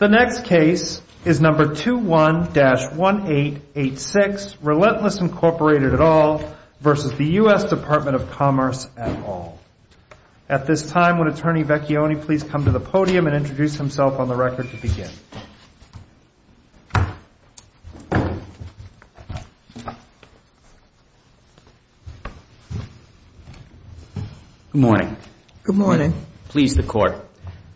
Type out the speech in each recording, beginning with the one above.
At this time, would Attorney Vecchione please come to the podium and introduce himself on the record to begin? Good morning. Good morning. Please the Court.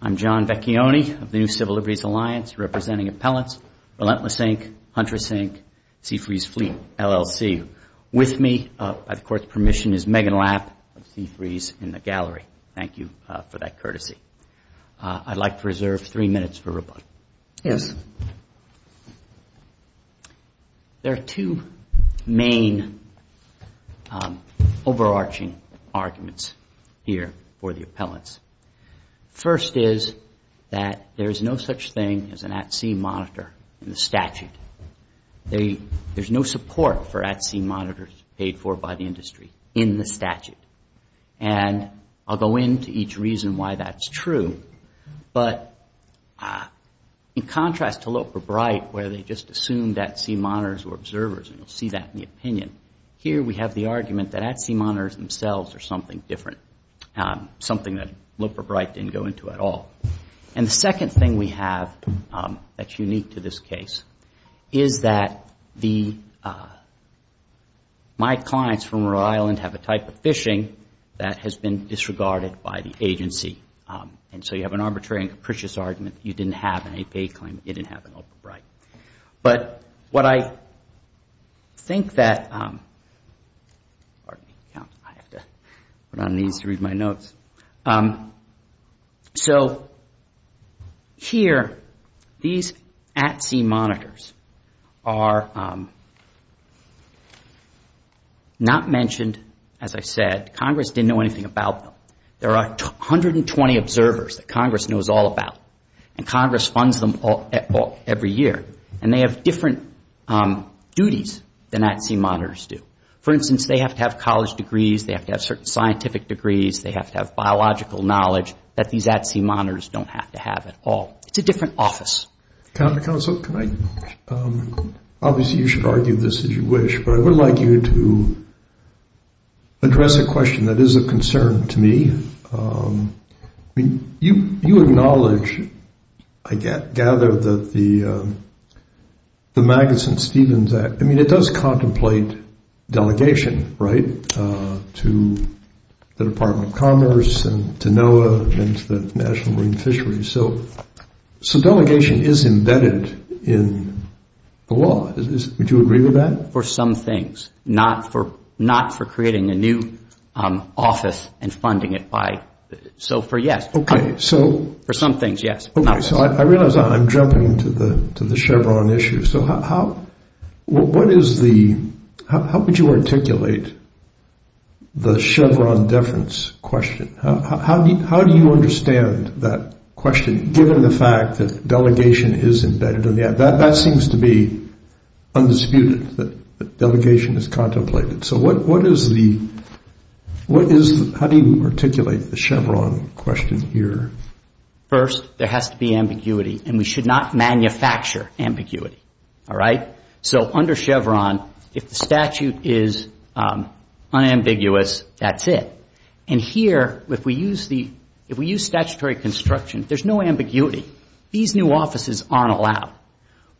I'm John Vecchione of the New Civil Liberties Alliance, representing Appellants Relentless Inc., Huntress Inc., Seafreeze Fleet, LLC. With me, by the Court's permission, is Megan Lapp of Seafreeze in the gallery. Thank you for that courtesy. I'd like to reserve three minutes for rebuttal. Yes. There are two main overarching arguments here for the appellants. First is that there is no such thing as an at-sea monitor in the statute. There's no support for at-sea monitors paid for by the industry in the statute. And I'll go into each reason why that's true, but in contrast to Loper Bright, where they just assumed at-sea monitors were observers, and you'll see that in the opinion, here we have the argument that at-sea monitors themselves are something different, something that Loper Bright didn't go into at all. And the second thing we have that's unique to this case is that my clients from Rhode Island have a type of phishing that has been disregarded by the agency. And so you have an arbitrary and capricious argument. You didn't have any pay claim, you didn't have an Loper Bright. But what I think that, pardon me, I have to put on these to read my notes. So here, these at-sea monitors are not mentioned, as I said, Congress didn't know anything about them. There are 120 observers that Congress knows all about, and Congress funds them every year. And they have different duties than at-sea monitors do. For instance, they have to have college degrees, they have to have certain scientific degrees, they have to have biological knowledge that these at-sea monitors don't have to have at all. It's a different office. Counsel, can I? Obviously, you should argue this as you wish, but I would like you to address a question that is a concern to me. You acknowledge, I gather, that the Magnuson-Stevens Act, I mean, it does contemplate delegation, right, to the Department of Commerce and to NOAA and to the National Marine Fisheries. So delegation is embedded in the law. Would you agree with that? For some things. Not for creating a new office and funding it by... So for, yes. Okay, so... For some things, yes. Okay, so I realize I'm jumping to the Chevron issue. So how would you articulate the Chevron deference question? How do you understand that question, given the fact that delegation is embedded in the act? That seems to be undisputed, that delegation is contemplated. So how do you articulate the Chevron question here? First, there has to be ambiguity, and we should not manufacture ambiguity, all right? So under Chevron, if the statute is unambiguous, that's it. And here, if we use statutory construction, there's no ambiguity. These new offices aren't allowed.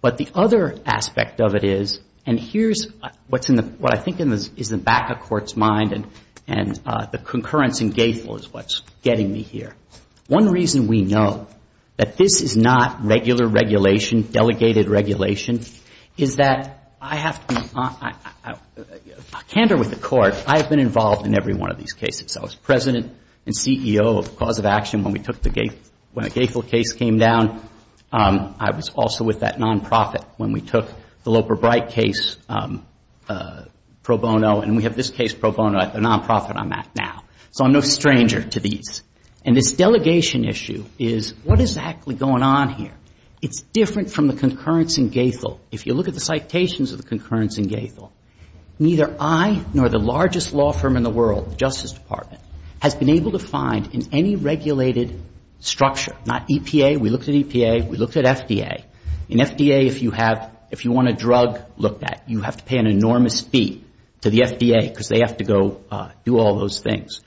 But the other aspect of it is, and here's what I think is in the back of court's mind and the concurrence in GAEFL is what's getting me here. One reason we know that this is not regular regulation, delegated regulation, is that I have to... A candor with the court, I have been involved in every one of these cases. I was president and CEO of Cause of Action when we took the GAEFL, when the GAEFL case came down. I was also with that non-profit when we took the Loper Bright case pro bono, and we have this case pro bono at the non-profit I'm at now. So I'm no stranger to these. And this delegation issue is, what is actually going on here? It's different from the concurrence in GAEFL. If you look at the citations of the concurrence in GAEFL, neither I nor the largest law firm in the world, the Justice Department, has been able to find in any regulated structure, not EPA. We looked at EPA. We looked at FDA. In FDA, if you want a drug, look at it. You have to pay an enormous fee to the FDA because they have to go do all those things.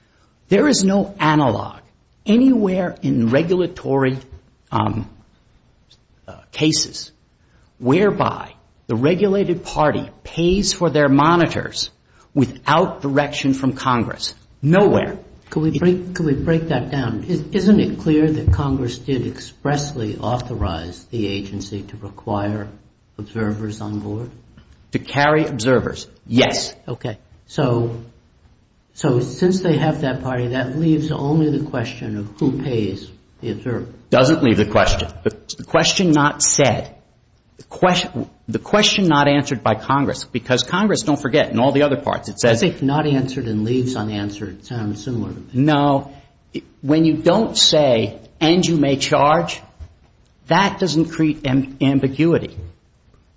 There is no analog anywhere in regulatory cases whereby the regulated party pays for their monitors without direction from Congress. Nowhere. Can we break that down? Isn't it clear that Congress did expressly authorize the agency to require observers on board? To carry observers, yes. Okay. So since they have that party, that leaves only the question of who pays the observers. Doesn't leave the question. The question not said. The question not answered by Congress, because Congress, don't forget, in all the other parts, it says I think not answered and leaves unanswered sound similar. No, when you don't say, and you may charge, that doesn't create ambiguity.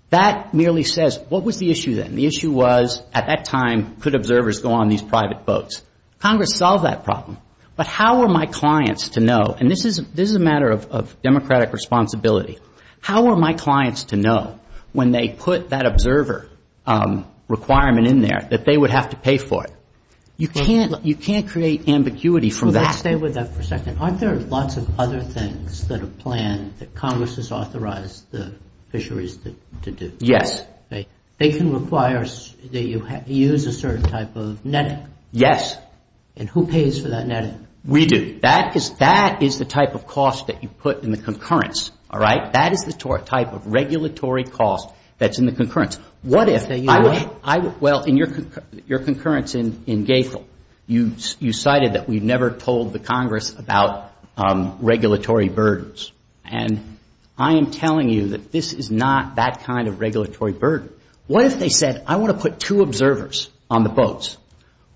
That merely says, what was the issue then? The issue was, at that time, could observers go on these private boats? Congress solved that problem. But how are my clients to know, and this is a matter of democratic responsibility, how are my clients to know when they put that observer requirement in there that they would have to pay for it? You can't create ambiguity from that. Let's stay with that for a second. Aren't there lots of other things that are planned that Congress has authorized the fisheries to do? Yes. They can require that you use a certain type of netting. Yes. And who pays for that netting? We do. That is the type of cost that you put in the concurrence, all right? That is the type of regulatory cost that's in the concurrence. What if I, well, in your concurrence in Gaethel, you cited that we never told the Congress about regulatory burdens. And I am telling you that this is not that kind of regulatory burden. What if they said, I want to put two observers on the boats?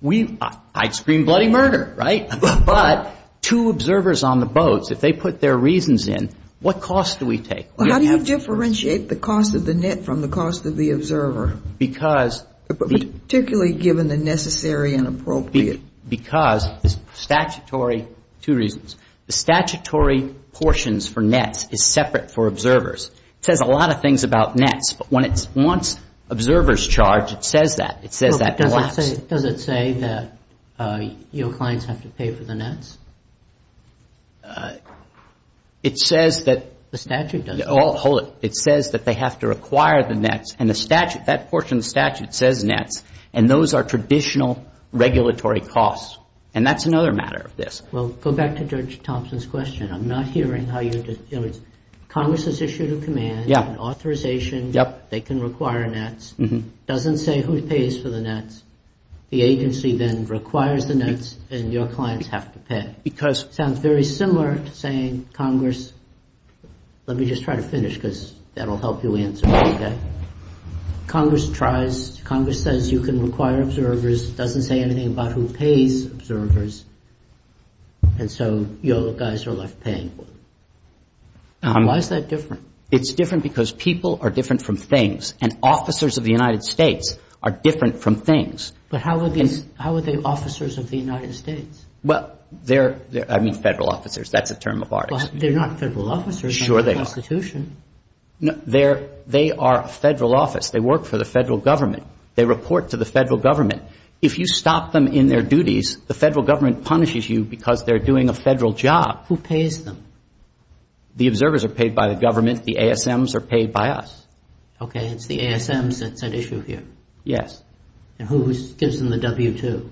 We, I'd scream bloody murder, right? But two observers on the boats, if they put their reasons in, what cost do we take? How do you differentiate the cost of the net from the cost of the observer? Because Particularly given the necessary and appropriate. Because the statutory, two reasons, the statutory portions for nets is separate for observers. It says a lot of things about nets, but when it wants observers charged, it says that. It says that collapsed. Does it say that your clients have to pay for the nets? It says that The statute doesn't. Hold it. It says that they have to require the nets and the statute, that portion of the statute says nets and those are traditional regulatory costs. And that's another matter of this. Well, go back to Judge Thompson's question. I'm not hearing how you, Congress has issued a command, an authorization, they can require nets. Doesn't say who pays for the nets. The agency then requires the nets and your clients have to pay. Sounds very similar to saying, Congress, let me just try to finish because that will help you answer, okay? Congress tries, Congress says you can require observers, doesn't say anything about who pays observers and so your guys are left paying for them. Why is that different? It's different because people are different from things and officers of the United States are different from things. But how are they officers of the United States? Well, they're, I mean, federal officers. That's a term of ours. But they're not federal officers. Sure they are. Under the Constitution. No, they're, they are a federal office. They work for the federal government. They report to the federal government. If you stop them in their duties, the federal government punishes you because they're doing a federal job. Who pays them? The observers are paid by the government. The ASMs are paid by us. Okay. It's the ASMs that's at issue here. Yes. And who gives them the W-2?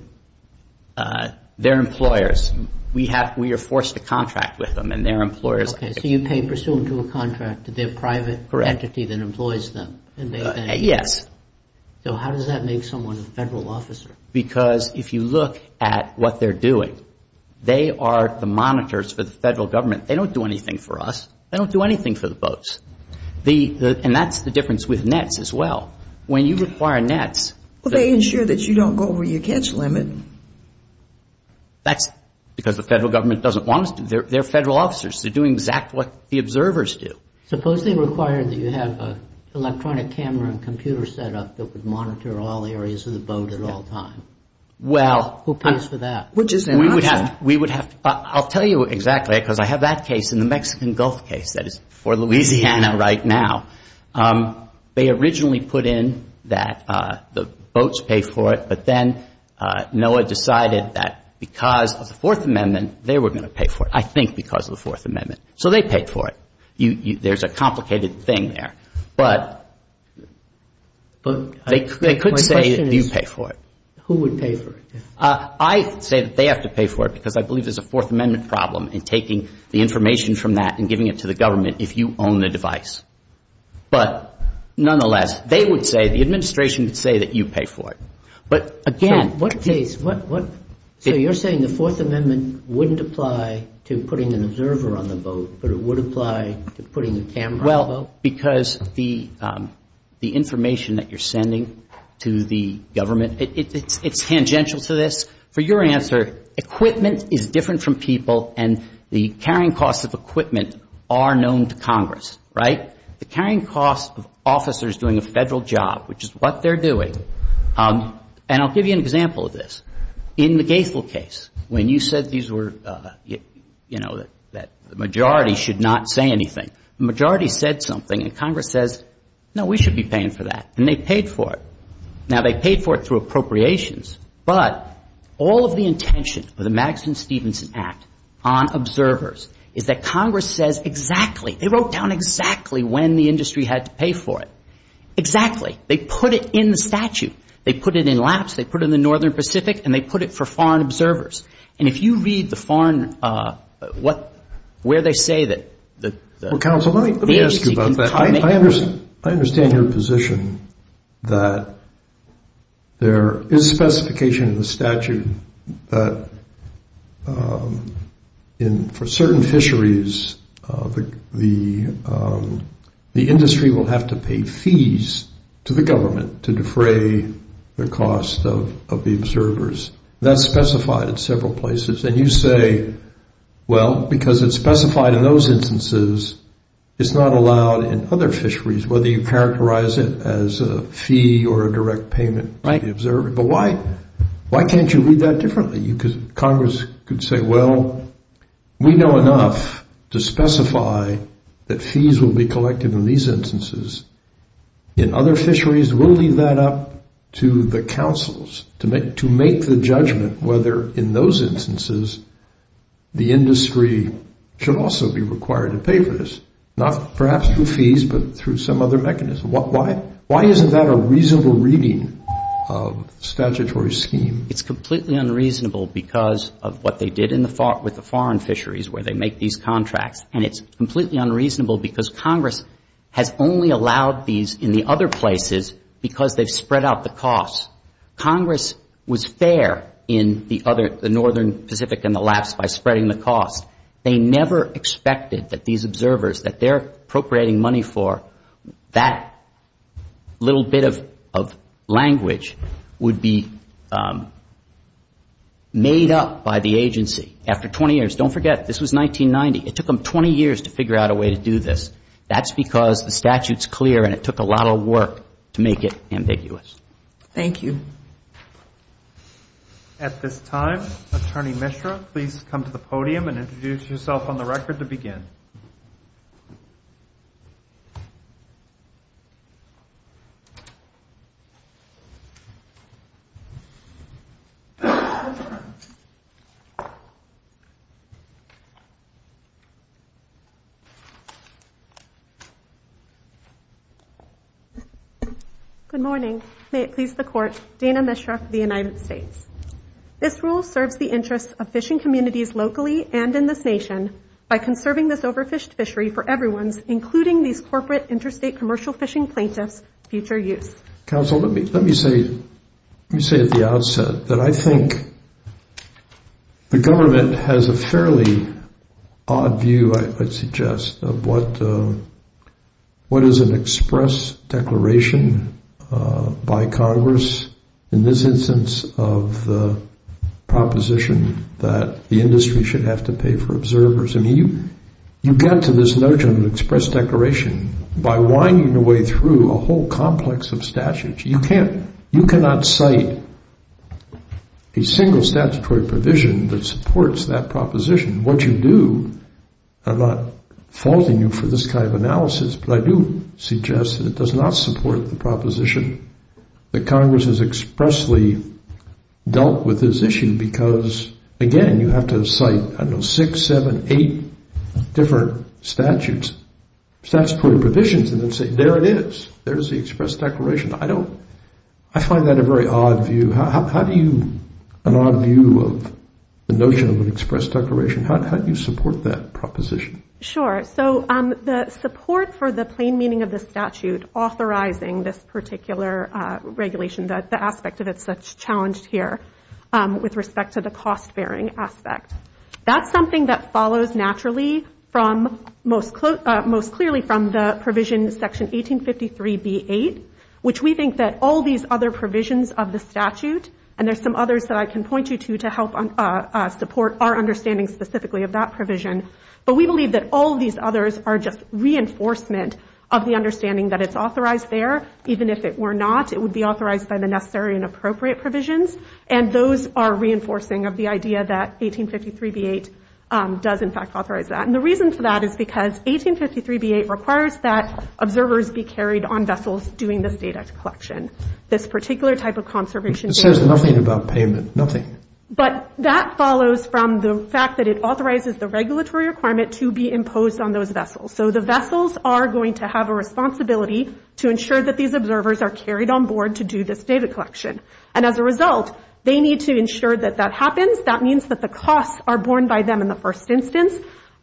They're employers. We have, we are forced to contract with them and they're employers. Okay. So you pay pursuant to a contract. They're a private entity that employs them. Yes. So how does that make someone a federal officer? Because if you look at what they're doing, they are the monitors for the federal government. They don't do anything for us. They don't do anything for the boats. And that's the difference with nets as well. When you require nets. Well, they ensure that you don't go over your catch limit. That's because the federal government doesn't want us to. They're federal officers. They're doing exactly what the observers do. Suppose they require that you have an electronic camera and computer set up that would monitor all areas of the boat at all times. Well. Who pays for that? Which is an option. We would have, we would have, I'll tell you exactly because I have that case in the Mexican Gulf case that is for Louisiana right now. They originally put in that the boats pay for it. But then NOAA decided that because of the Fourth Amendment, they were going to pay for it. I think because of the Fourth Amendment. So they paid for it. There's a complicated thing there. But they could say that you pay for it. Who would pay for it? I say that they have to pay for it because I believe there's a Fourth Amendment problem in taking the information from that and giving it to the government if you own the device. But nonetheless, they would say, the administration would say that you pay for it. But again. What case? So you're saying the Fourth Amendment wouldn't apply to putting an observer on the boat, but it would apply to putting the camera on the boat? Well, because the information that you're sending to the government, it's tangential to this. For your answer, equipment is different from people and the carrying costs of equipment are known to Congress, right? The carrying costs of officers doing a Federal job, which is what they're doing, and I'll give you an example of this. In the Gaithel case, when you said these were, you know, that the majority should not say anything, the majority said something and Congress says, no, we should be paying for that. And they paid for it. Now, they paid for it through appropriations. But all of the intention of the Madison-Stevenson Act on observers is that Congress says exactly, they wrote down exactly when the industry had to pay for it, exactly. They put it in the statute. They put it in lapse. They put it in the Northern Pacific and they put it for foreign observers. And if you read the foreign, what, where they say that the agency can try to make it. position that there is specification in the statute that for certain fisheries, the industry will have to pay fees to the government to defray the cost of the observers. That's specified at several places. And you say, well, because it's specified in those instances, it's not allowed in other fisheries, whether you characterize it as a fee or a direct payment by the observer. But why, why can't you read that differently? You could, Congress could say, well, we know enough to specify that fees will be collected in these instances. In other fisheries, we'll leave that up to the councils to make, to make the judgment whether in those instances, the industry should also be required to pay for this. Not perhaps through fees, but through some other mechanism. Why, why, why isn't that a reasonable reading of statutory scheme? It's completely unreasonable because of what they did in the, with the foreign fisheries where they make these contracts. And it's completely unreasonable because Congress has only allowed these in the other places because they've spread out the costs. Congress was fair in the other, the Northern Pacific and the lapse by spreading the cost. They never expected that these observers, that they're appropriating money for that little bit of, of language would be made up by the agency after 20 years. Don't forget, this was 1990. It took them 20 years to figure out a way to do this. That's because the statute's clear and it took a lot of work to make it ambiguous. Thank you. At this time, Attorney Mishra, please come to the podium and introduce yourself on the record to begin. Good morning. May it please the Court. Dana Mishra for the United States. This rule serves the interests of fishing communities locally and in this nation by conserving this overfished fishery for everyone's, including these corporate interstate commercial fishing plaintiffs, future use. Counsel, let me, let me say, let me say at the outset that I think the government has a fairly odd view, I suggest, of what, what is an express declaration? By Congress, in this instance of the proposition that the industry should have to pay for observers. I mean, you, you get to this notion of express declaration by winding your way through a whole complex of statutes. You can't, you cannot cite a single statutory provision that supports that proposition. What you do, I'm not faulting you for this kind of analysis, but I do suggest that it does not support the proposition that Congress has expressly dealt with this issue because, again, you have to cite, I don't know, six, seven, eight different statutes, statutory provisions, and then say, there it is. There's the express declaration. I don't, I find that a very odd view. How do you, an odd view of the notion of an express declaration, how do you support that proposition? Sure. So, the support for the plain meaning of the statute authorizing this particular regulation, the aspect of it that's challenged here with respect to the cost-bearing aspect, that's something that follows naturally from, most clearly from the provision, Section 1853 B.8, which we think that all these other provisions of the statute, and there's some others that I can point you to to help support our understanding specifically of that provision, but we believe that all of these others are just reinforcement of the understanding that it's authorized there. Even if it were not, it would be authorized by the necessary and appropriate provisions, and those are reinforcing of the idea that 1853 B.8 does, in fact, authorize that. And the reason for that is because 1853 B.8 requires that observers be carried on vessels doing this data collection. This particular type of conservation... It says nothing about payment, nothing. But that follows from the fact that it authorizes the regulatory requirement to be imposed on those vessels. So, the vessels are going to have a responsibility to ensure that these observers are carried on board to do this data collection. And as a result, they need to ensure that that happens. That means that the costs are borne by them in the first instance,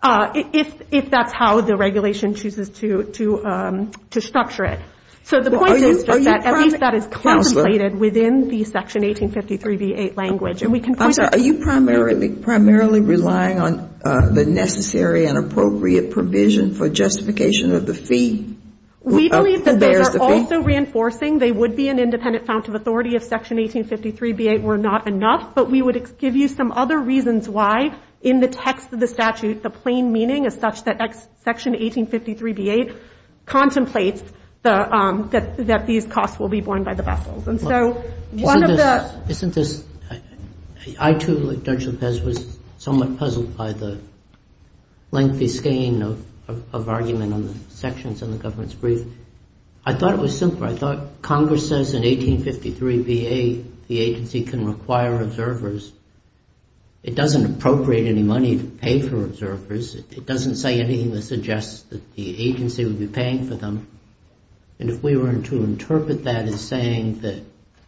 if that's how the regulation chooses to structure it. So, the point is just that at least that is contemplated within the Section 1853 B.8 language and we can point out... I'm sorry. Are you primarily relying on the necessary and appropriate provision for justification of the fee? Who bears the fee? We believe that those are also reinforcing. They would be an independent fount of authority if Section 1853 B.8 were not enough, but we would give you some other reasons why in the text of the statute the plain meaning is such that Section 1853 B.8 contemplates that these costs will be borne by the vessels. And so, one of the... Isn't this... I, too, like Judge Lopez, was somewhat puzzled by the lengthy scheme of argument on the sections in the government's brief. I thought it was simple. I thought Congress says in 1853 B.8 the agency can require observers. It doesn't appropriate any money to pay for observers. It doesn't say anything that suggests that the agency would be paying for them. And if we were to interpret that as saying that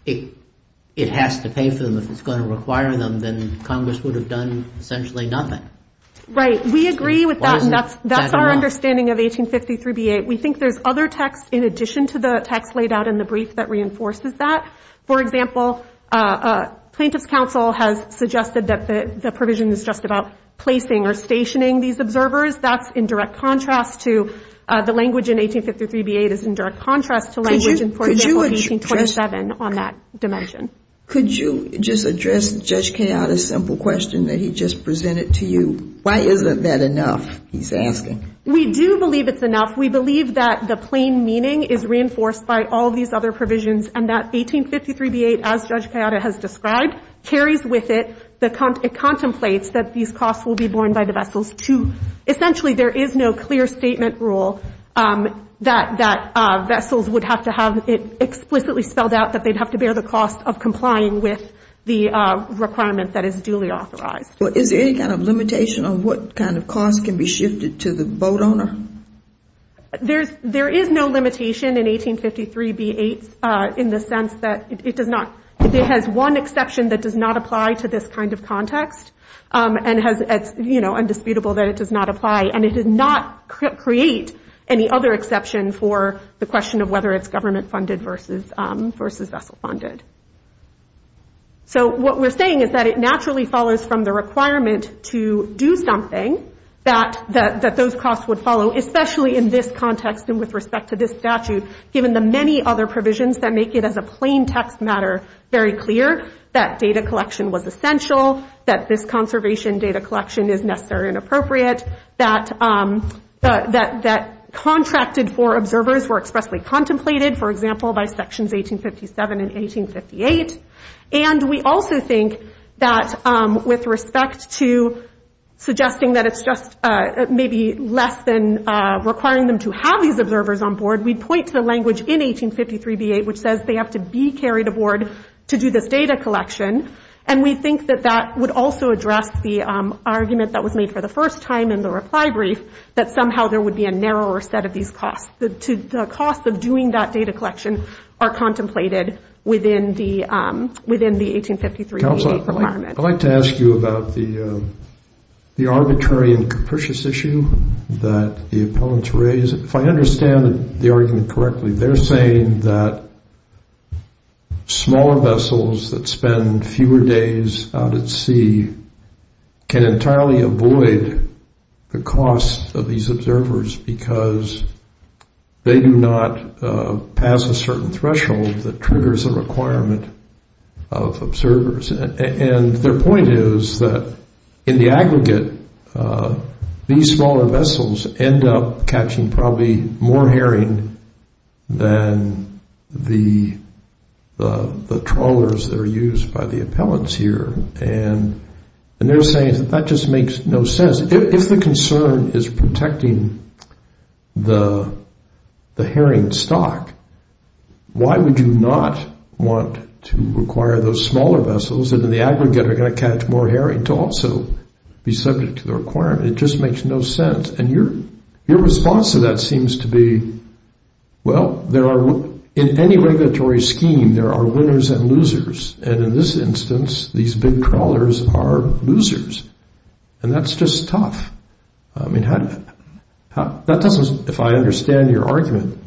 it has to pay for them if it's going to require them, then Congress would have done essentially nothing. Right. We agree with that and that's our understanding of 1853 B.8. We think there's other text in addition to the text laid out in the brief that reinforces that. For example, Plaintiff's Counsel has suggested that the provision is just about placing or stationing these observers. That's in direct contrast to the language in 1853 B.8 is in direct contrast to language in 1827 on that dimension. Could you just address Judge Cayatta's simple question that he just presented to you? Why isn't that enough, he's asking? We do believe it's enough. We believe that the plain meaning is reinforced by all these other provisions and that 1853 B.8, as Judge Cayatta has described, carries with it... It contemplates that these costs will be borne by the vessels to... Essentially there is no clear statement rule that vessels would have to have it explicitly spelled out that they'd have to bear the cost of complying with the requirement that is duly authorized. Is there any kind of limitation on what kind of cost can be shifted to the boat owner? There is no limitation in 1853 B.8 in the sense that it does not... It has one exception that does not apply to this kind of context and it's indisputable that it does not apply. It did not create any other exception for the question of whether it's government funded versus vessel funded. What we're saying is that it naturally follows from the requirement to do something that those costs would follow, especially in this context and with respect to this statute, given the many other provisions that make it as a plain text matter very clear that data collection was essential, that this conservation data collection is necessary and appropriate, that contracted for observers were expressly contemplated, for example, by sections 1857 and 1858. And we also think that with respect to suggesting that it's just maybe less than requiring them to have these observers on board, we point to the language in 1853 B.8 which says they have to be carried aboard to do this data collection. And we think that that would also address the argument that was made for the first time in the reply brief that somehow there would be a narrower set of these costs. The costs of doing that data collection are contemplated within the 1853 B.8 requirement. I'd like to ask you about the arbitrary and capricious issue that the opponents raise. If I understand the argument correctly, they're saying that smaller vessels that spend fewer days out at sea can entirely avoid the costs of these observers because they do not pass a certain threshold that triggers a requirement of observers. And their point is that in the aggregate, these smaller vessels end up catching probably more herring than the trawlers that are used by the appellants here. And they're saying that that just makes no sense. If the concern is protecting the herring stock, why would you not want to require those smaller vessels that in the aggregate are going to catch more herring to also be subject to the requirement? It just makes no sense. And your response to that seems to be, well, in any regulatory scheme, there are winners and losers. And in this instance, these big trawlers are losers. And that's just tough. I mean, if I understand your argument,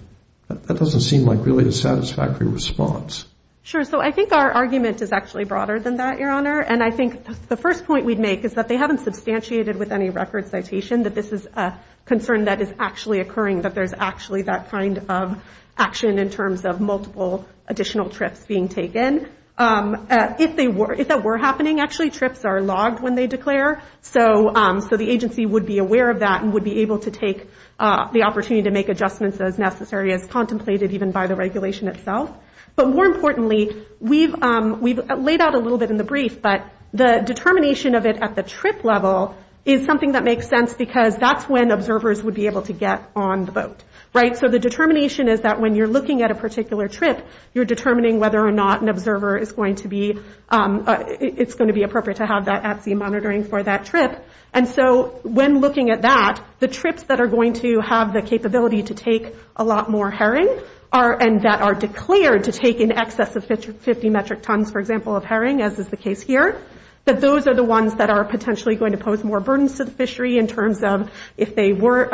that doesn't seem like really a satisfactory response. Sure. So I think our argument is actually broader than that, Your Honor. And I think the first point we'd make is that they haven't substantiated with any record citation that this is a concern that is actually occurring, that there's actually that kind of action in terms of multiple additional trips being taken. If that were happening, actually, trips are logged when they declare. So the agency would be aware of that and would be able to take the opportunity to make adjustments as necessary as contemplated even by the regulation itself. But more importantly, we've laid out a little bit in the brief, but the determination of it at the trip level is something that makes sense because that's when observers would be able to get on the boat. So the determination is that when you're looking at a particular trip, you're determining whether or not an observer is going to be, it's going to be appropriate to have that at-sea monitoring for that trip. And so when looking at that, the trips that are going to have the capability to take a lot more herring and that are declared to take in excess of 50 metric tons, for example, of herring, as is the case here, that those are the ones that are potentially going to pose more burdens to the fishery in terms of if they were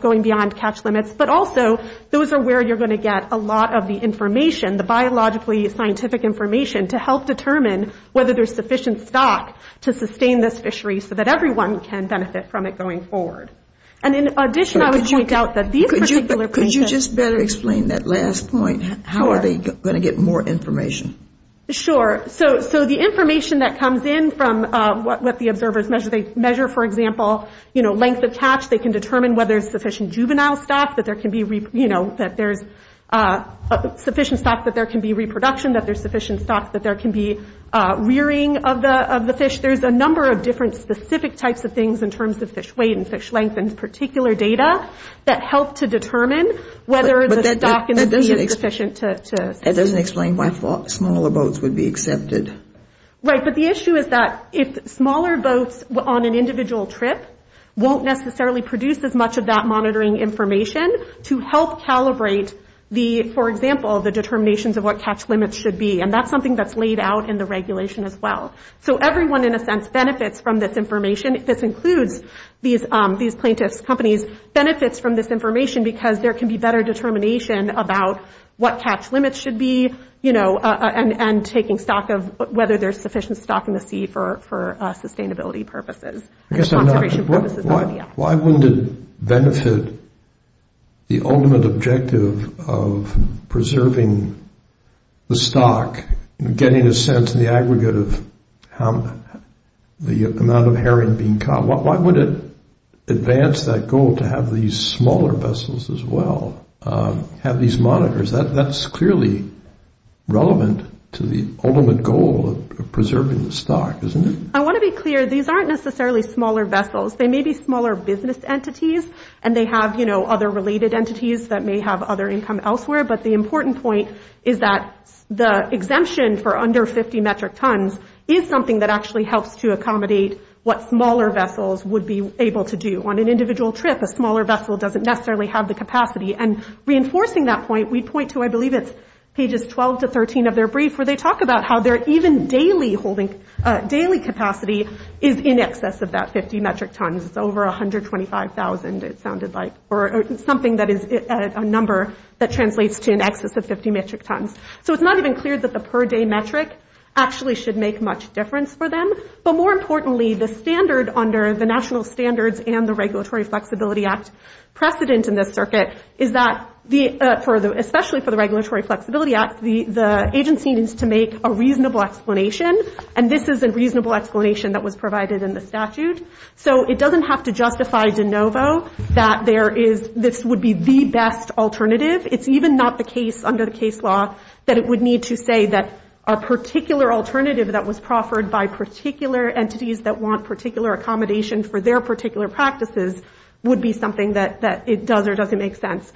going beyond catch limits. But also, those are where you're going to get a lot of the information, the biologically scientific information to help determine whether there's sufficient stock to sustain this fishery so that everyone can benefit from it going forward. And in addition, I would point out that these particular patients... Can you just better explain that last point? How are they going to get more information? Sure. So the information that comes in from what the observers measure, they measure, for example, length of catch, they can determine whether there's sufficient juvenile stock, that there can be, you know, that there's sufficient stock that there can be reproduction, that there's sufficient stock that there can be rearing of the fish. There's a number of different specific types of things in terms of fish weight and fish length and particular data that help to determine whether there's a stock that's sufficient to... That doesn't explain why smaller boats would be accepted. Right. But the issue is that if smaller boats on an individual trip won't necessarily produce as much of that monitoring information to help calibrate the, for example, the determinations of what catch limits should be. And that's something that's laid out in the regulation as well. So everyone, in a sense, benefits from this information. And this includes these plaintiffs' companies' benefits from this information because there can be better determination about what catch limits should be, you know, and taking stock of whether there's sufficient stock in the sea for sustainability purposes. Why wouldn't it benefit the ultimate objective of preserving the stock, getting a sense of the aggregate of the amount of herring being caught? Why would it advance that goal to have these smaller vessels as well, have these monitors? That's clearly relevant to the ultimate goal of preserving the stock, isn't it? I want to be clear. These aren't necessarily smaller vessels. They may be smaller business entities and they have, you know, other related entities that may have other income elsewhere. But the important point is that the exemption for under 50 metric tons is something that actually helps to accommodate what smaller vessels would be able to do. On an individual trip, a smaller vessel doesn't necessarily have the capacity. And reinforcing that point, we point to, I believe, it's pages 12 to 13 of their brief where they talk about how their even daily holding, daily capacity is in excess of that 50 metric tons. It's over 125,000, it sounded like, or something that is a number that is in excess of 50 metric tons. So it's not even clear that the per day metric actually should make much difference for them. But more importantly, the standard under the National Standards and the Regulatory Flexibility Act precedent in this circuit is that the, especially for the Regulatory Flexibility Act, the agency needs to make a reasonable explanation. And this is a reasonable explanation that was provided in the statute. So it doesn't have to justify de novo that there is, this would be the best alternative. It's even not the case under the case law that it would need to say that a particular alternative that was proffered by particular entities that want particular accommodation for their particular practices would be something that it does or doesn't make sense.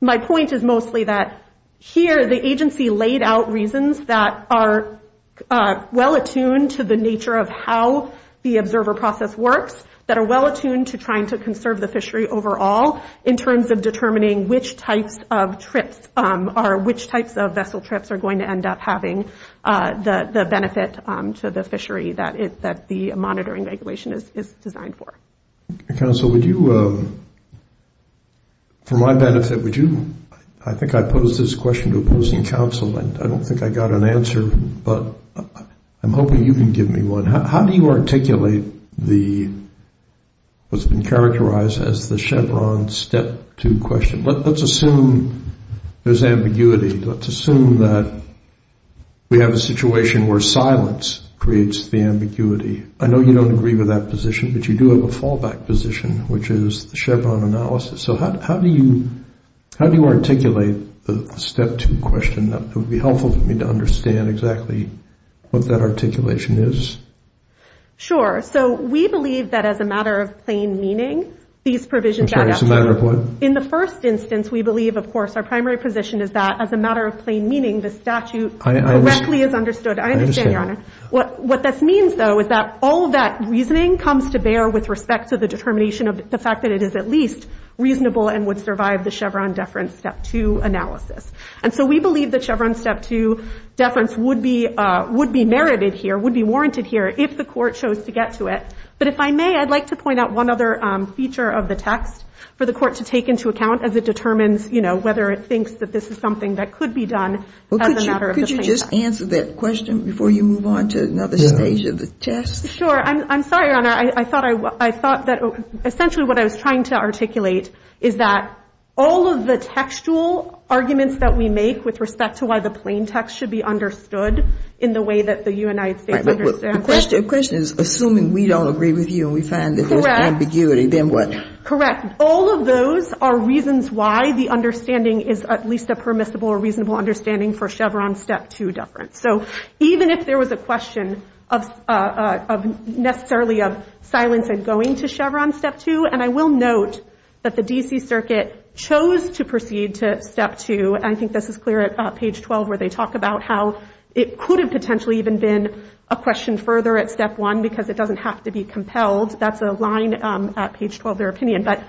My point is mostly that here the agency laid out reasons that are well attuned to the nature of how the observer process works, that are well attuned to trying to conserve the fishery overall in terms of determining which types of trips are, which types of vessel trips are going to end up having the benefit to the fishery that the monitoring regulation is designed for. Counsel, would you, for my benefit, would you, I think I posed this question to opposing counsel and I don't think I got an answer, but I'm hoping you can give me one. How do you articulate the, what's been characterized as the step two question? Let's assume there's ambiguity. Let's assume that we have a situation where silence creates the ambiguity. I know you don't agree with that position, but you do have a fallback position, which is the Chevron analysis. So how do you articulate the step two question? It would be helpful for me to understand exactly what that articulation is. Sure. So we believe that as a matter of plain meaning, these provisions add up. I'm sorry, it's a matter of what? In the first instance, we believe, of course, our primary position is that as a matter of plain meaning, the statute directly is understood. I understand. I understand, Your Honor. What this means, though, is that all of that reasoning comes to bear with respect to the determination of the fact that it is at least reasonable and would survive the Chevron deference step two analysis. And so we believe the Chevron step two deference would be merited here, would be warranted here if the court chose to get to it. But if I may, I'd like to point out one other feature of the text for the court to take into account as it determines, you know, whether it thinks that this is something that could be done as a matter of plain text. Could you just answer that question before you move on to another stage of the test? Sure. I'm sorry, Your Honor. I thought that essentially what I was trying to articulate is that all of the textual arguments that we make with respect to why the plain text should be understood in the way that the United States understands it. The question is assuming we don't agree with you and we find that there's ambiguity, then what? Correct. All of those are reasons why the understanding is at least a permissible or reasonable understanding for Chevron step two deference. So even if there was a question of necessarily of silence and going to Chevron step two, and I will note that the D.C. Circuit chose to proceed to step two, and I think this is clear at page 12 where they talk about how it could have potentially even been a question further at step one because it doesn't have to be compelled. That's a line at page 12, their opinion. But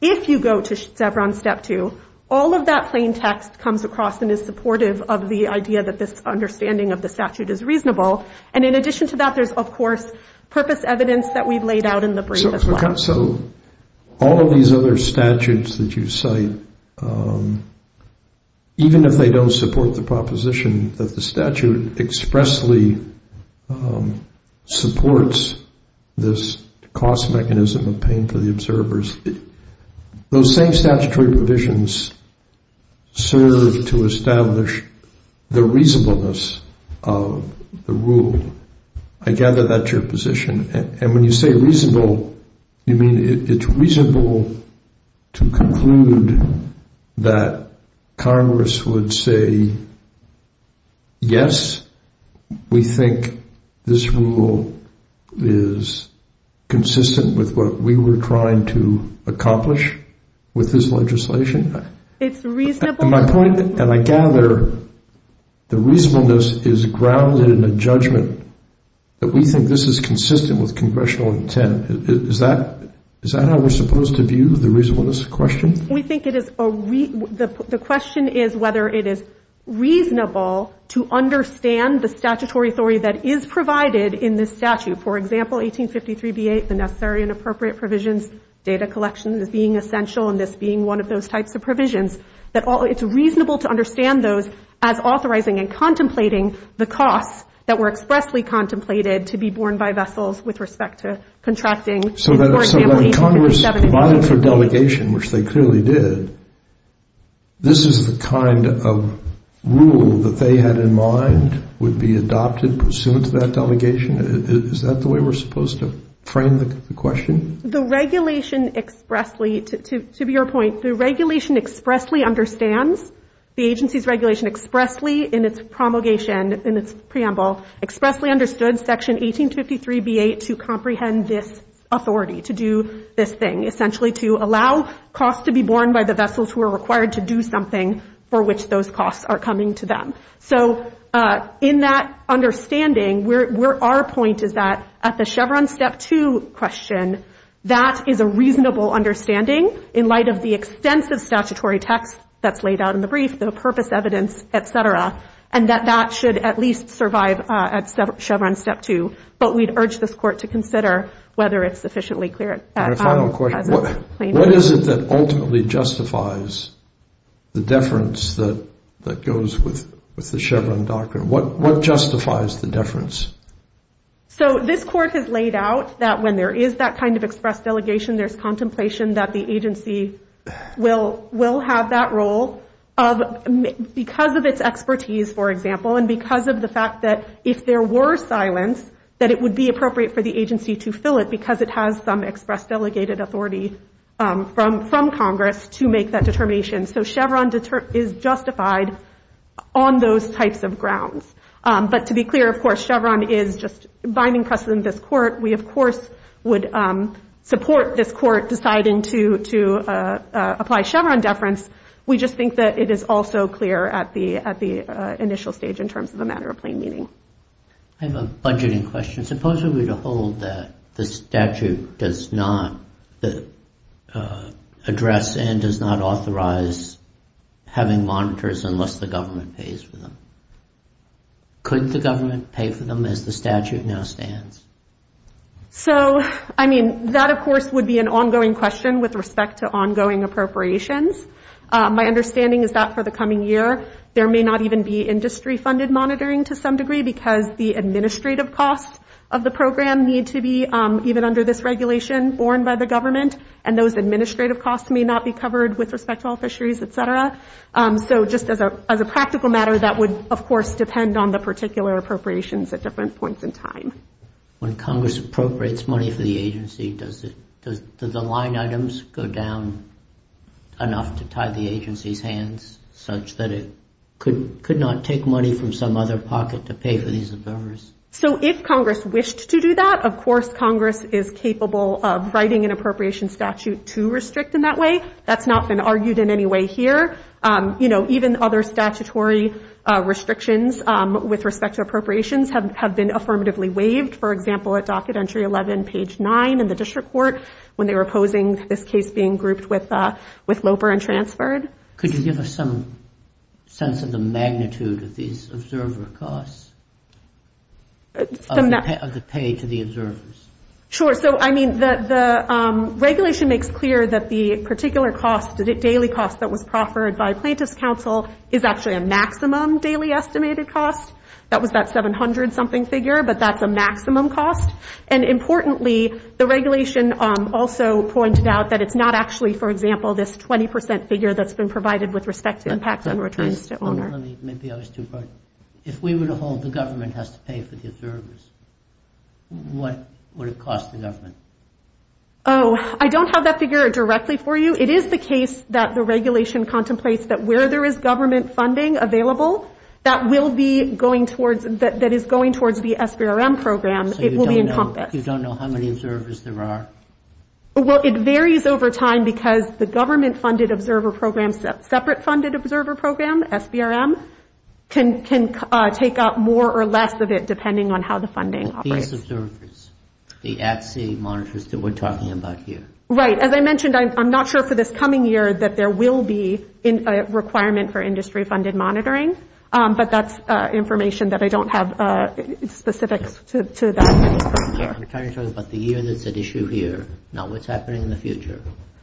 if you go to Chevron step two, all of that plain text comes across and is supportive of the idea that this understanding of the statute is reasonable. And in addition to that, there's, of course, purpose evidence that we've laid out in the brief as well. So all of these other statutes that you cite, even if they don't support the proposition that the statute expressly supports this cost mechanism of paying for the observers, those same statutory provisions serve to establish the reasonableness of the rule. I gather that's your position. And when you say reasonable, you mean it's reasonable to conclude that Congress would say, yes, we think this rule is consistent with what we were trying to accomplish with this legislation? It's reasonable. My point, and I gather the reasonableness is grounded in a judgment that we think this is consistent with congressional intent. Is that how we're supposed to view the reasonableness question? We think the question is whether it is reasonable to understand the statutory authority that is provided in this statute. For example, 1853b8, the necessary and appropriate provisions, data collection as being essential, and this being one of those types of provisions. It's reasonable to understand those as authorizing and contemplating the costs that were expressly contemplated to be borne by vessels with respect to contracting. So that Congress provided for delegation, which they clearly did, this is the kind of rule that they had in mind would be adopted pursuant to that delegation? Is that the way we're supposed to frame the question? The regulation expressly, to your point, the regulation expressly understands the agency's regulation expressly in its promulgation, in its preamble, expressly understood Section 1853b8 to comprehend this authority, to do this thing, essentially to allow costs to be borne by the vessels who are required to do something for which those costs are coming to them. So in that understanding, our point is that at the Chevron Step 2 question, that is a reasonable understanding in light of the extensive statutory text that's laid out in the brief, the purpose evidence, et cetera, and that that should at least survive at Chevron Step 2. But we'd urge this Court to consider whether it's sufficiently clear. And a final question. What is it that ultimately justifies the deference that goes with the Chevron doctrine? What justifies the deference? So this Court has laid out that when there is that kind of expressed delegation, there's contemplation that the agency will have that role because of its expertise, for example, and because of the fact that if there were silence, that it would be appropriate for the agency to fill it because it has some express delegated authority from Congress to make that determination. So Chevron is justified on those types of grounds. But to be clear, of course, Chevron is just binding precedent in this Court. We, of course, would support this Court deciding to apply Chevron deference. We just think that it is also clear at the initial stage in terms of the matter of plain meaning. I have a budgeting question. Suppose we were to hold that the statute does not address and does not authorize having monitors unless the government pays for them. Could the government pay for them as the statute now stands? So, I mean, that, of course, would be an ongoing question with respect to ongoing appropriations. My understanding is that for the coming year, there may not even be industry-funded monitoring to some degree because the administrative costs of the program need to be, even under this regulation, borne by the government, and those administrative costs may not be covered with respect to all fisheries, et cetera. So just as a practical matter, that would, of course, depend on the particular appropriations at different points in time. When Congress appropriates money for the agency, do the line items go down enough to tie the agency's hands such that it could not take money from some other pocket to pay for these endeavors? So if Congress wished to do that, of course Congress is capable of writing an appropriation statute to restrict in that way. That's not been argued in any way here. You know, even other statutory restrictions with respect to appropriations have been affirmatively waived. For example, at Docket Entry 11, page 9 in the District Court, when they were opposing this case being grouped with LOPER and transferred. Could you give us some sense of the magnitude of these observer costs, of the pay to the observers? Sure. So, I mean, the regulation makes clear that the particular cost, the daily cost that was proffered by plaintiff's counsel, is actually a maximum daily estimated cost. That was that 700-something figure, but that's a maximum cost. And importantly, the regulation also pointed out that it's not actually, for example, this 20% figure that's been provided with respect to impact on returns to owner. Let me, maybe I was too broad. If we were to hold the government has to pay for the observers, what would it cost the government? Oh, I don't have that figure directly for you. It is the case that the regulation contemplates that where there is government funding available, that is going towards the SBRM program, it will be encompassed. So you don't know how many observers there are? Well, it varies over time because the government funded observer program, separate funded observer program, SBRM, can take up more or less of it depending on how the funding operates. These observers, the at-sea monitors that we're talking about here. Right. As I mentioned, I'm not sure for this coming year that there will be a requirement for industry-funded monitoring, but that's information that I don't have specifics to that. I'm trying to talk about the year that's at issue here, not what's happening in the future.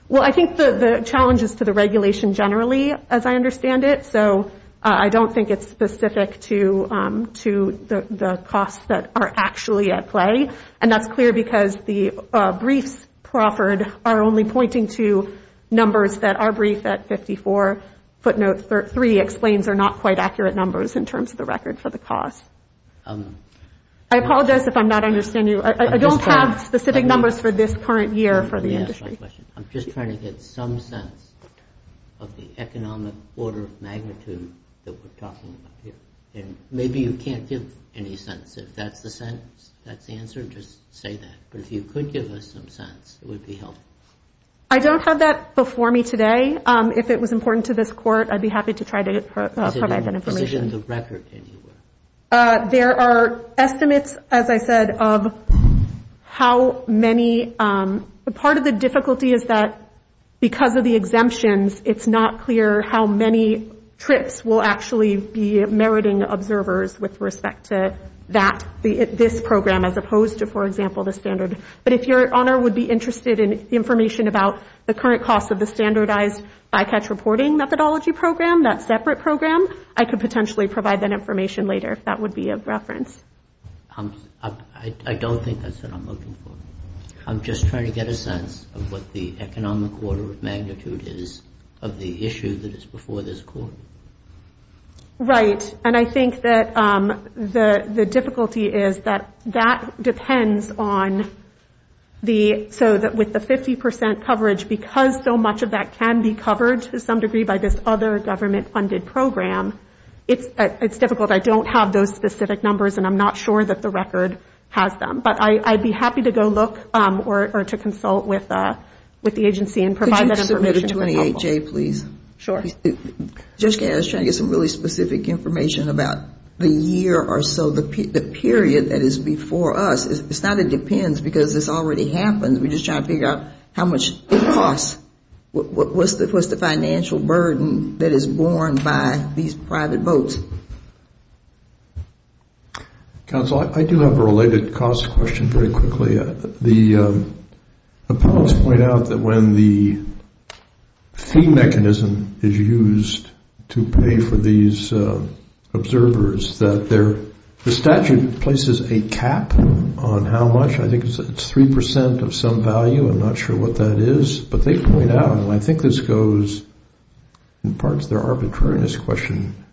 Well, I think the challenge is to the regulation generally, as I understand it, so I don't think it's specific to the costs that are actually at play. And that's clear because the briefs proffered are only pointing to numbers that are briefed at 54. Footnote 3 explains they're not quite accurate numbers in terms of the record for the cost. I apologize if I'm not understanding you. I don't have specific numbers for this current year for the industry. I'm just trying to get some sense of the economic order of magnitude that we're talking about here. Maybe you can't give any sense. If that's the answer, just say that. But if you could give us some sense, it would be helpful. I don't have that before me today. If it was important to this court, I'd be happy to try to provide that information. Is it in the position of the record anywhere? There are estimates, as I said, of how many... Part of the difficulty is that because of the exemptions, it's not clear how many trips will actually be meriting observers with respect to this program as opposed to, for example, the standard. But if Your Honor would be interested in information about the current costs of the standardized bycatch reporting methodology program, that separate program, I could potentially provide that information later if that would be of reference. I don't think that's what I'm looking for. I'm just trying to get a sense of what the economic order of magnitude is of the issue that is before this court. Right, and I think that the difficulty is that that depends on the... So that with the 50% coverage, because so much of that can be covered to some degree by this other government-funded program, it's difficult. I don't have those specific numbers, and I'm not sure that the record has them. But I'd be happy to go look or to consult with the agency and provide that information if it's helpful. Jay, please. I was just trying to get some really specific information about the year or so, the period that is before us. It's not that it depends, because this already happens. We're just trying to figure out how much it costs. What's the financial burden that is borne by these private boats? Counsel, I do have a related cost question very quickly. The appellants point out that when the fee mechanism is used to pay for these observers, that the statute places a cap on how much. I think it's 3% of some value. I'm not sure what that is, but they point out, and I think this goes in part to their arbitrariness question,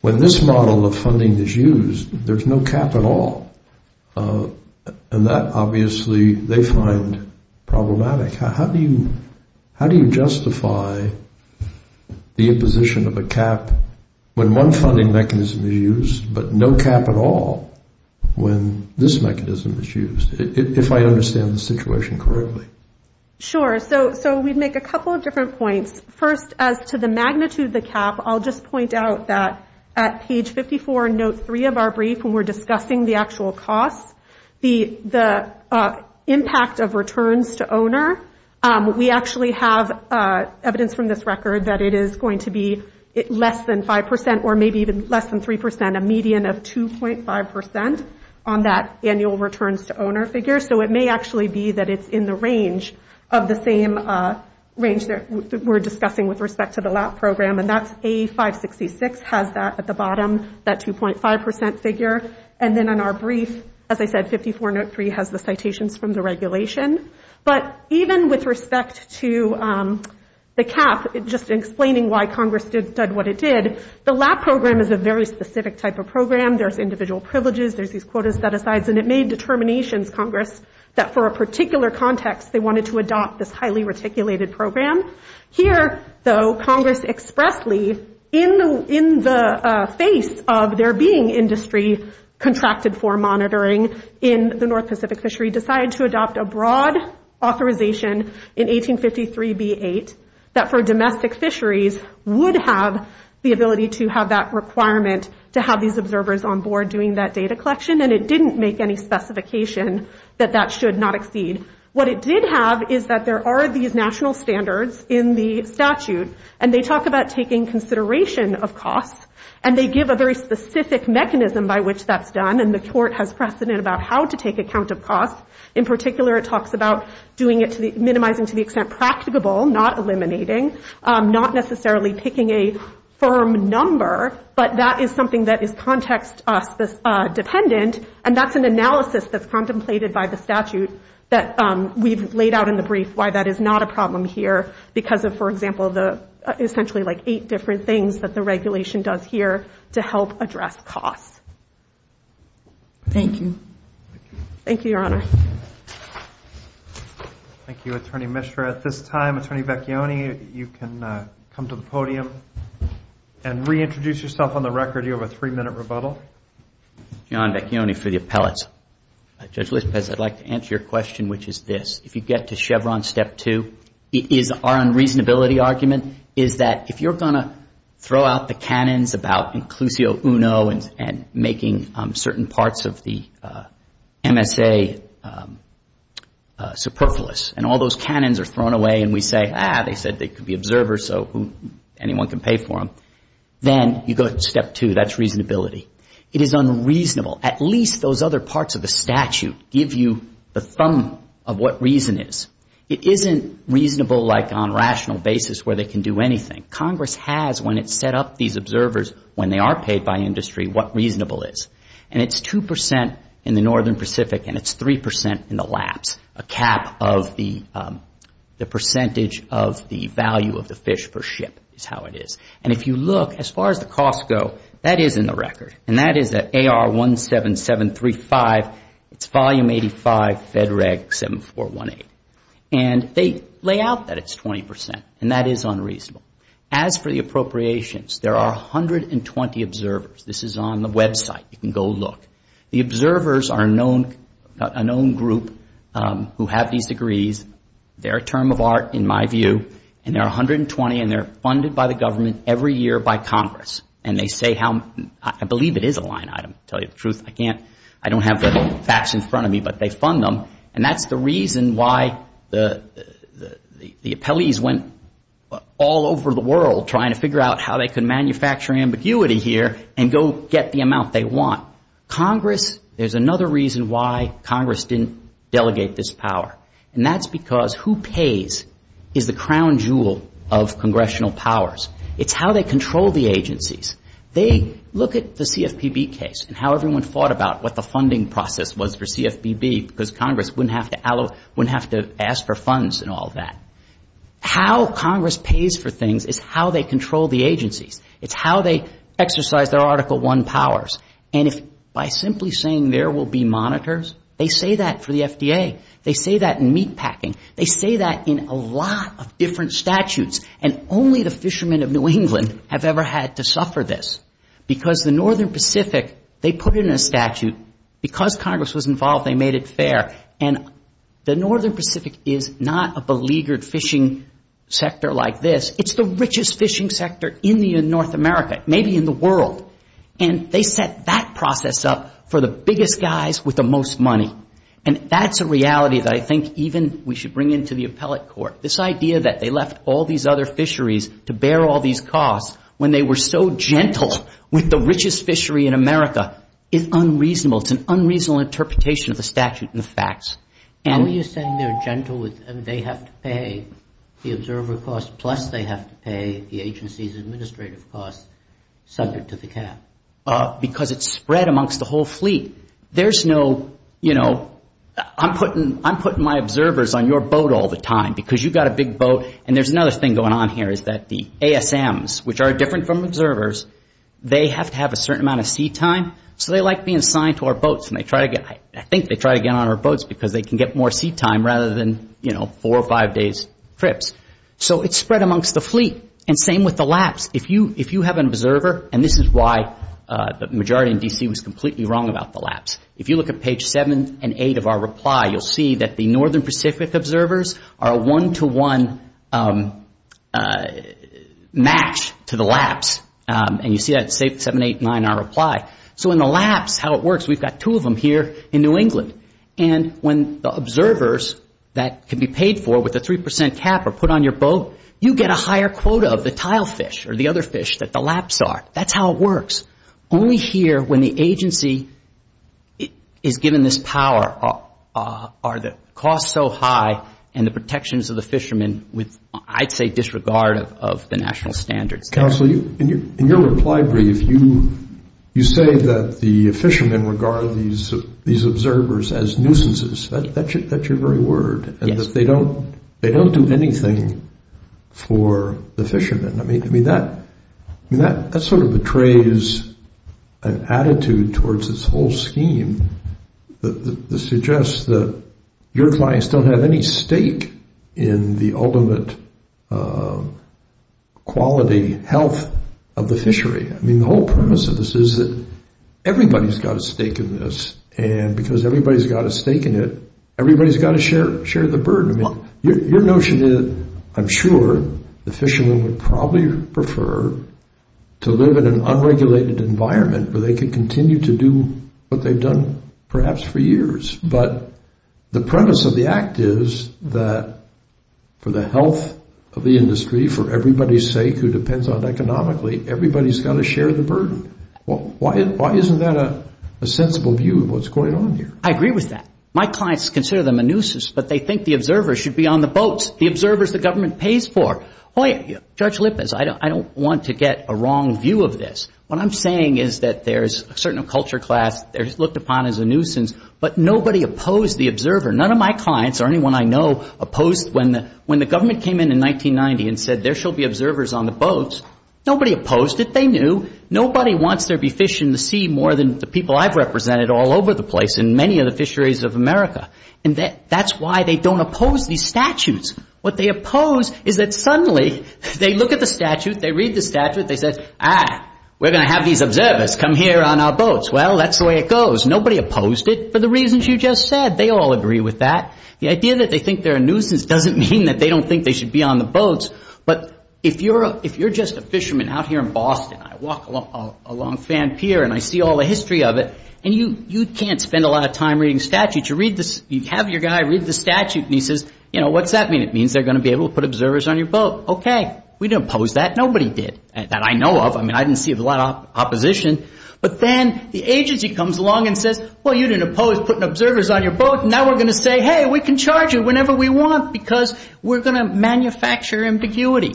when this model of funding is used, there's no cap at all. And that, obviously, they find problematic. How do you justify the imposition of a cap when one funding mechanism is used, but no cap at all when this mechanism is used, if I understand the situation correctly? Sure. So we'd make a couple of different points. First, as to the magnitude of the cap, I'll just point out that at page 54 in note 3 of our brief when we're discussing the actual costs, the impact of returns to owner, we actually have evidence from this record that it is going to be less than 5%, or maybe even less than 3%, a median of 2.5% on that annual returns to owner figure. So it may actually be that it's in the range of the same range that we're discussing with respect to the LAP program, and that's A566 has that at the bottom, that 2.5% figure. And then in our brief, as I said, 54 note 3 has the citations from the regulation. But even with respect to the cap, just in explaining why Congress did what it did, the LAP program is a very specific type of program. There's individual privileges, there's these quota set-asides, and it made determinations, Congress, that for a particular context, they wanted to adopt this highly reticulated program. Here, though, Congress expressly, in the face of there being industry contracted for monitoring in the North Pacific fishery, decided to adopt a broad authorization in 1853b8 that for domestic fisheries would have the ability to have that requirement to have these observers on board doing that data collection, and it didn't make any specification that that should not exceed. What it did have is that there are these national standards in the statute, and they talk about taking consideration of costs, and they give a very specific mechanism by which that's done, and the court has precedent about how to take account of costs. In particular, it talks about minimizing to the extent practicable, not eliminating, not necessarily picking a firm number, but that is something that is context-dependent, and that's an analysis that's contemplated by the statute that we've laid out in the brief why that is not a problem here because of, for example, essentially like eight different things that the regulation does here to help address costs. Thank you. Thank you, Your Honor. Thank you, Attorney Mishra. At this time, Attorney Vecchione, you can come to the podium and reintroduce yourself on the record. You have a three-minute rebuttal. John Vecchione for the appellate. Judge Lispitz, I'd like to answer your question, which is this. If you get to Chevron Step 2, is our unreasonability argument is that if you're going to throw out the canons about inclusio uno and making certain parts of the MSA superfluous, and all those canons are thrown away, and we say, ah, they said they could be observers, so anyone can pay for them, then you go to Step 2. That's reasonability. It is unreasonable. At least those other parts of the statute give you the thumb of what reason is. It isn't reasonable, like, on a rational basis where they can do anything. Congress has, when it's set up these observers, when they are paid by industry, what reasonable is. And it's 2% in the northern Pacific, and it's 3% in the laps, a cap of the percentage of the value of the fish per ship is how it is. And if you look, as far as the costs go, that is in the record, and that is at AR 17735, it's Volume 85, Fed Reg 7418. And they lay out that it's 20%, and that is unreasonable. As for the appropriations, there are 120 observers. This is on the website. You can go look. The observers are a known group who have these degrees. They're a term of art, in my view, and there are 120, and they're funded by the government every year by Congress. And they say how... I believe it is a line item, to tell you the truth. I don't have the facts in front of me, but they fund them, and that's the reason why the appellees went all over the world trying to figure out how they could manufacture ambiguity here and go get the amount they want. Congress, there's another reason why Congress didn't delegate this power, and that's because who pays is the crown jewel of congressional powers. It's how they control the agency. They look at the CFPB case and how everyone fought about what the funding process was for CFPB, because Congress wouldn't have to ask for funds and all that. How Congress pays for things is how they control the agencies. It's how they exercise their Article I powers. And if by simply saying there will be monitors, they say that for the FDA. They say that in meatpacking. They say that in a lot of different statutes, and only the fishermen of New England have ever had to suffer this. Because the Northern Pacific, they put in a statute. Because Congress was involved, they made it fair. And the Northern Pacific is not a beleaguered fishing sector like this. It's the richest fishing sector in the North America, maybe in the world. And they set that process up for the biggest guys with the most money. And that's a reality that I think even we should bring into the appellate court. This idea that they left all these other fisheries to bear all these costs when they were so gentle with the richest fishery in America is unreasonable. It's an unreasonable interpretation of the statute and the facts. How are you saying they're gentle and they have to pay the observer costs plus they have to pay the agency's administrative costs subject to the cap? Because it's spread amongst the whole fleet. There's no, you know, I'm putting my observers on your boat all the time because you've got a big boat and there's another thing that's going on here is that the ASMs, which are different from observers, they have to have a certain amount of sea time. So they like being signed to our boats and they try to get, I think they try to get on our boats because they can get more sea time rather than, you know, four or five days trips. So it's spread amongst the fleet and same with the laps. If you have an observer and this is why the majority in D.C. was completely wrong about the laps. If you look at page seven and eight of our reply, you'll see that the Northern Pacific observers are a one-to-one match to the laps. And you see that in page seven, eight, and nine in our reply. So in the laps, how it works, we've got two of them here in New England. And when the observers that can be paid for with a three percent cap are put on your boat, you get a higher quota of the tilefish or the other fish that the laps are. That's how it works. Only here when the agency is given this power are the costs so high and the cost and the protections of the fishermen with, I'd say, disregard of the national standards. Counsel, in your reply brief, you say that the fishermen regard these observers as nuisances. That's your very word. Yes. And that they don't do anything for the fishermen. I mean, that sort of betrays an attitude towards this whole scheme that suggests that your clients don't have any state in the ultimate quality health of the fishery. I mean, the whole premise of this is that everybody's got a stake in this and because everybody's got a stake in it, everybody's got to share the burden. I mean, your notion is, I'm sure, the fishermen would probably prefer to live in an unregulated environment where they can continue to do what they've done perhaps for years. But the premise of the act is that for the health of the industry, for everybody's sake who depends on economically, everybody's got to share the burden. Why isn't that a sensible view of what's going on here? I agree with that. My clients consider them a nuisance, but they think the observers should be on the boats, the observers the government pays for. Judge Lippis, I don't want to get a wrong view of this. What I'm saying is that there's a certain culture class that's looked upon as a nuisance, but nobody opposed the observer. None of my clients or anyone I know opposed when the government came in in 1990 and said there shall be observers on the boats. Nobody opposed it. They knew. Nobody wants there to be fish in the sea more than the people I've represented all over the place in many of the fisheries of America. That's why they don't oppose these statutes. What they oppose is that suddenly they look at the observer on our boats. That's the way it goes. Nobody opposed it for the reasons you just said. They all agree with that. The idea that they think they're a nuisance doesn't mean they don't think they should be on the boats, but if you're just a fisherman out here in I walk along Fan Pier and I see all the history of it, and you can't spend a lot of time reading statutes. You have your guy read the position, but then the agency comes along and says, well, you didn't oppose putting observers on your boat, and now we're going to say, hey, we can charge you whenever we want because we're going to manufacture ambiguity.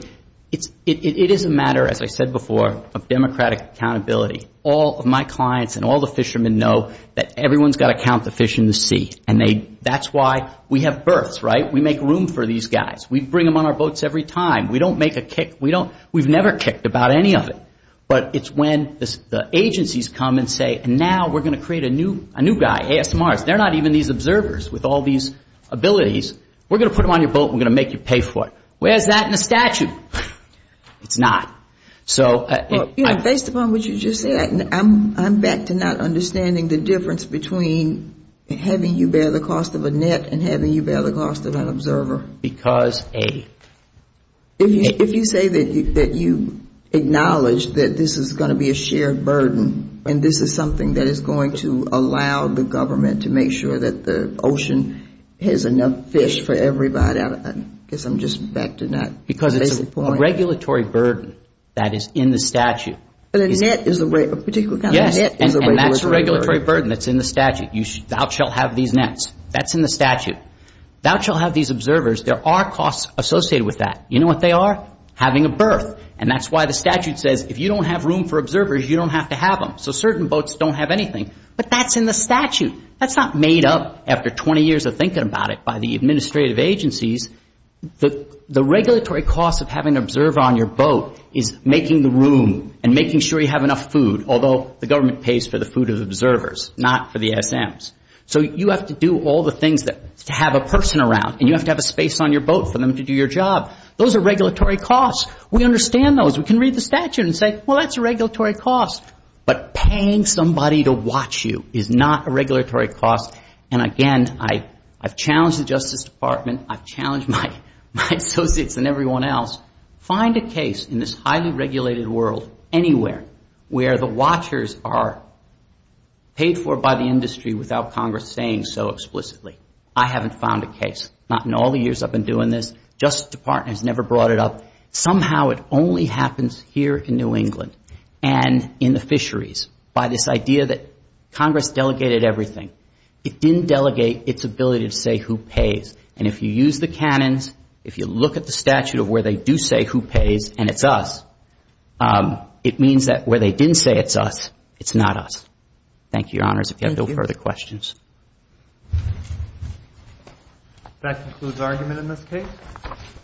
It is a matter, as I said before, of democratic accountability. All of my clients and all the fishermen know that everyone's got to count the fish in the sea. And that's why we have berths, right? We make room for these guys. We bring them on our boats every time. We don't make a We've never kicked about any of it. But it's when the agencies come and say, now we're going to create a new guy, ASMRs. They're not even these observers with all these abilities. We're going to put them on your boat and make you pay for it. Where's that in the statute? It's not. So... Based upon what you just said, I'm back to not understanding the difference between having you bear the cost of a net and having you bear the cost of an Because a If you say that you acknowledge that this is going to be a shared burden and this is something that is going to allow the government to make sure that the ocean has enough fish for everybody. I guess I'm just back to not Because it's a regulatory burden that is in the statute. But a net is a particular kind of And that's a regulatory burden that's in the Thou shalt have these nets. That's in the Thou shalt have these observers. There are costs associated with that. You know what they are? Having a berth. And that's why the statute says if you don't have room for observers, you don't have to have them. So certain boats don't have anything. But that's in the statute. That's not made up after 20 years of thinking about it by the administrative agencies. The regulatory cost of having an observer on your boat is making the room and making sure you have enough food, although the government pays for the food of observers, not for the SMs. So you have to do all the things to have a person around and you have to have a space on your boat for them to do your job. Those are regulatory costs. We understand those. We can read the statute and say that's a regulatory cost. But paying somebody to watch you is not a cost. And again, I've challenged the Justice Department, I've challenged my associates and everyone else, find a case in this highly regulated world anywhere where the watchers are paid for by the industry without Congress saying so explicitly. I haven't found a case. Not in all the years I've been doing this. Justice Department has never brought it up. Somehow it only happens here in New England and in the fisheries by this idea that Congress delegated everything. It didn't delegate its ability to say who pays. And if you use the canons, if you look at the statute of where they do say who pays and it's us, it means that where they didn't say it's us, it's not us. Thank you, Your Honors. If you have no further questions. That concludes argument in this case.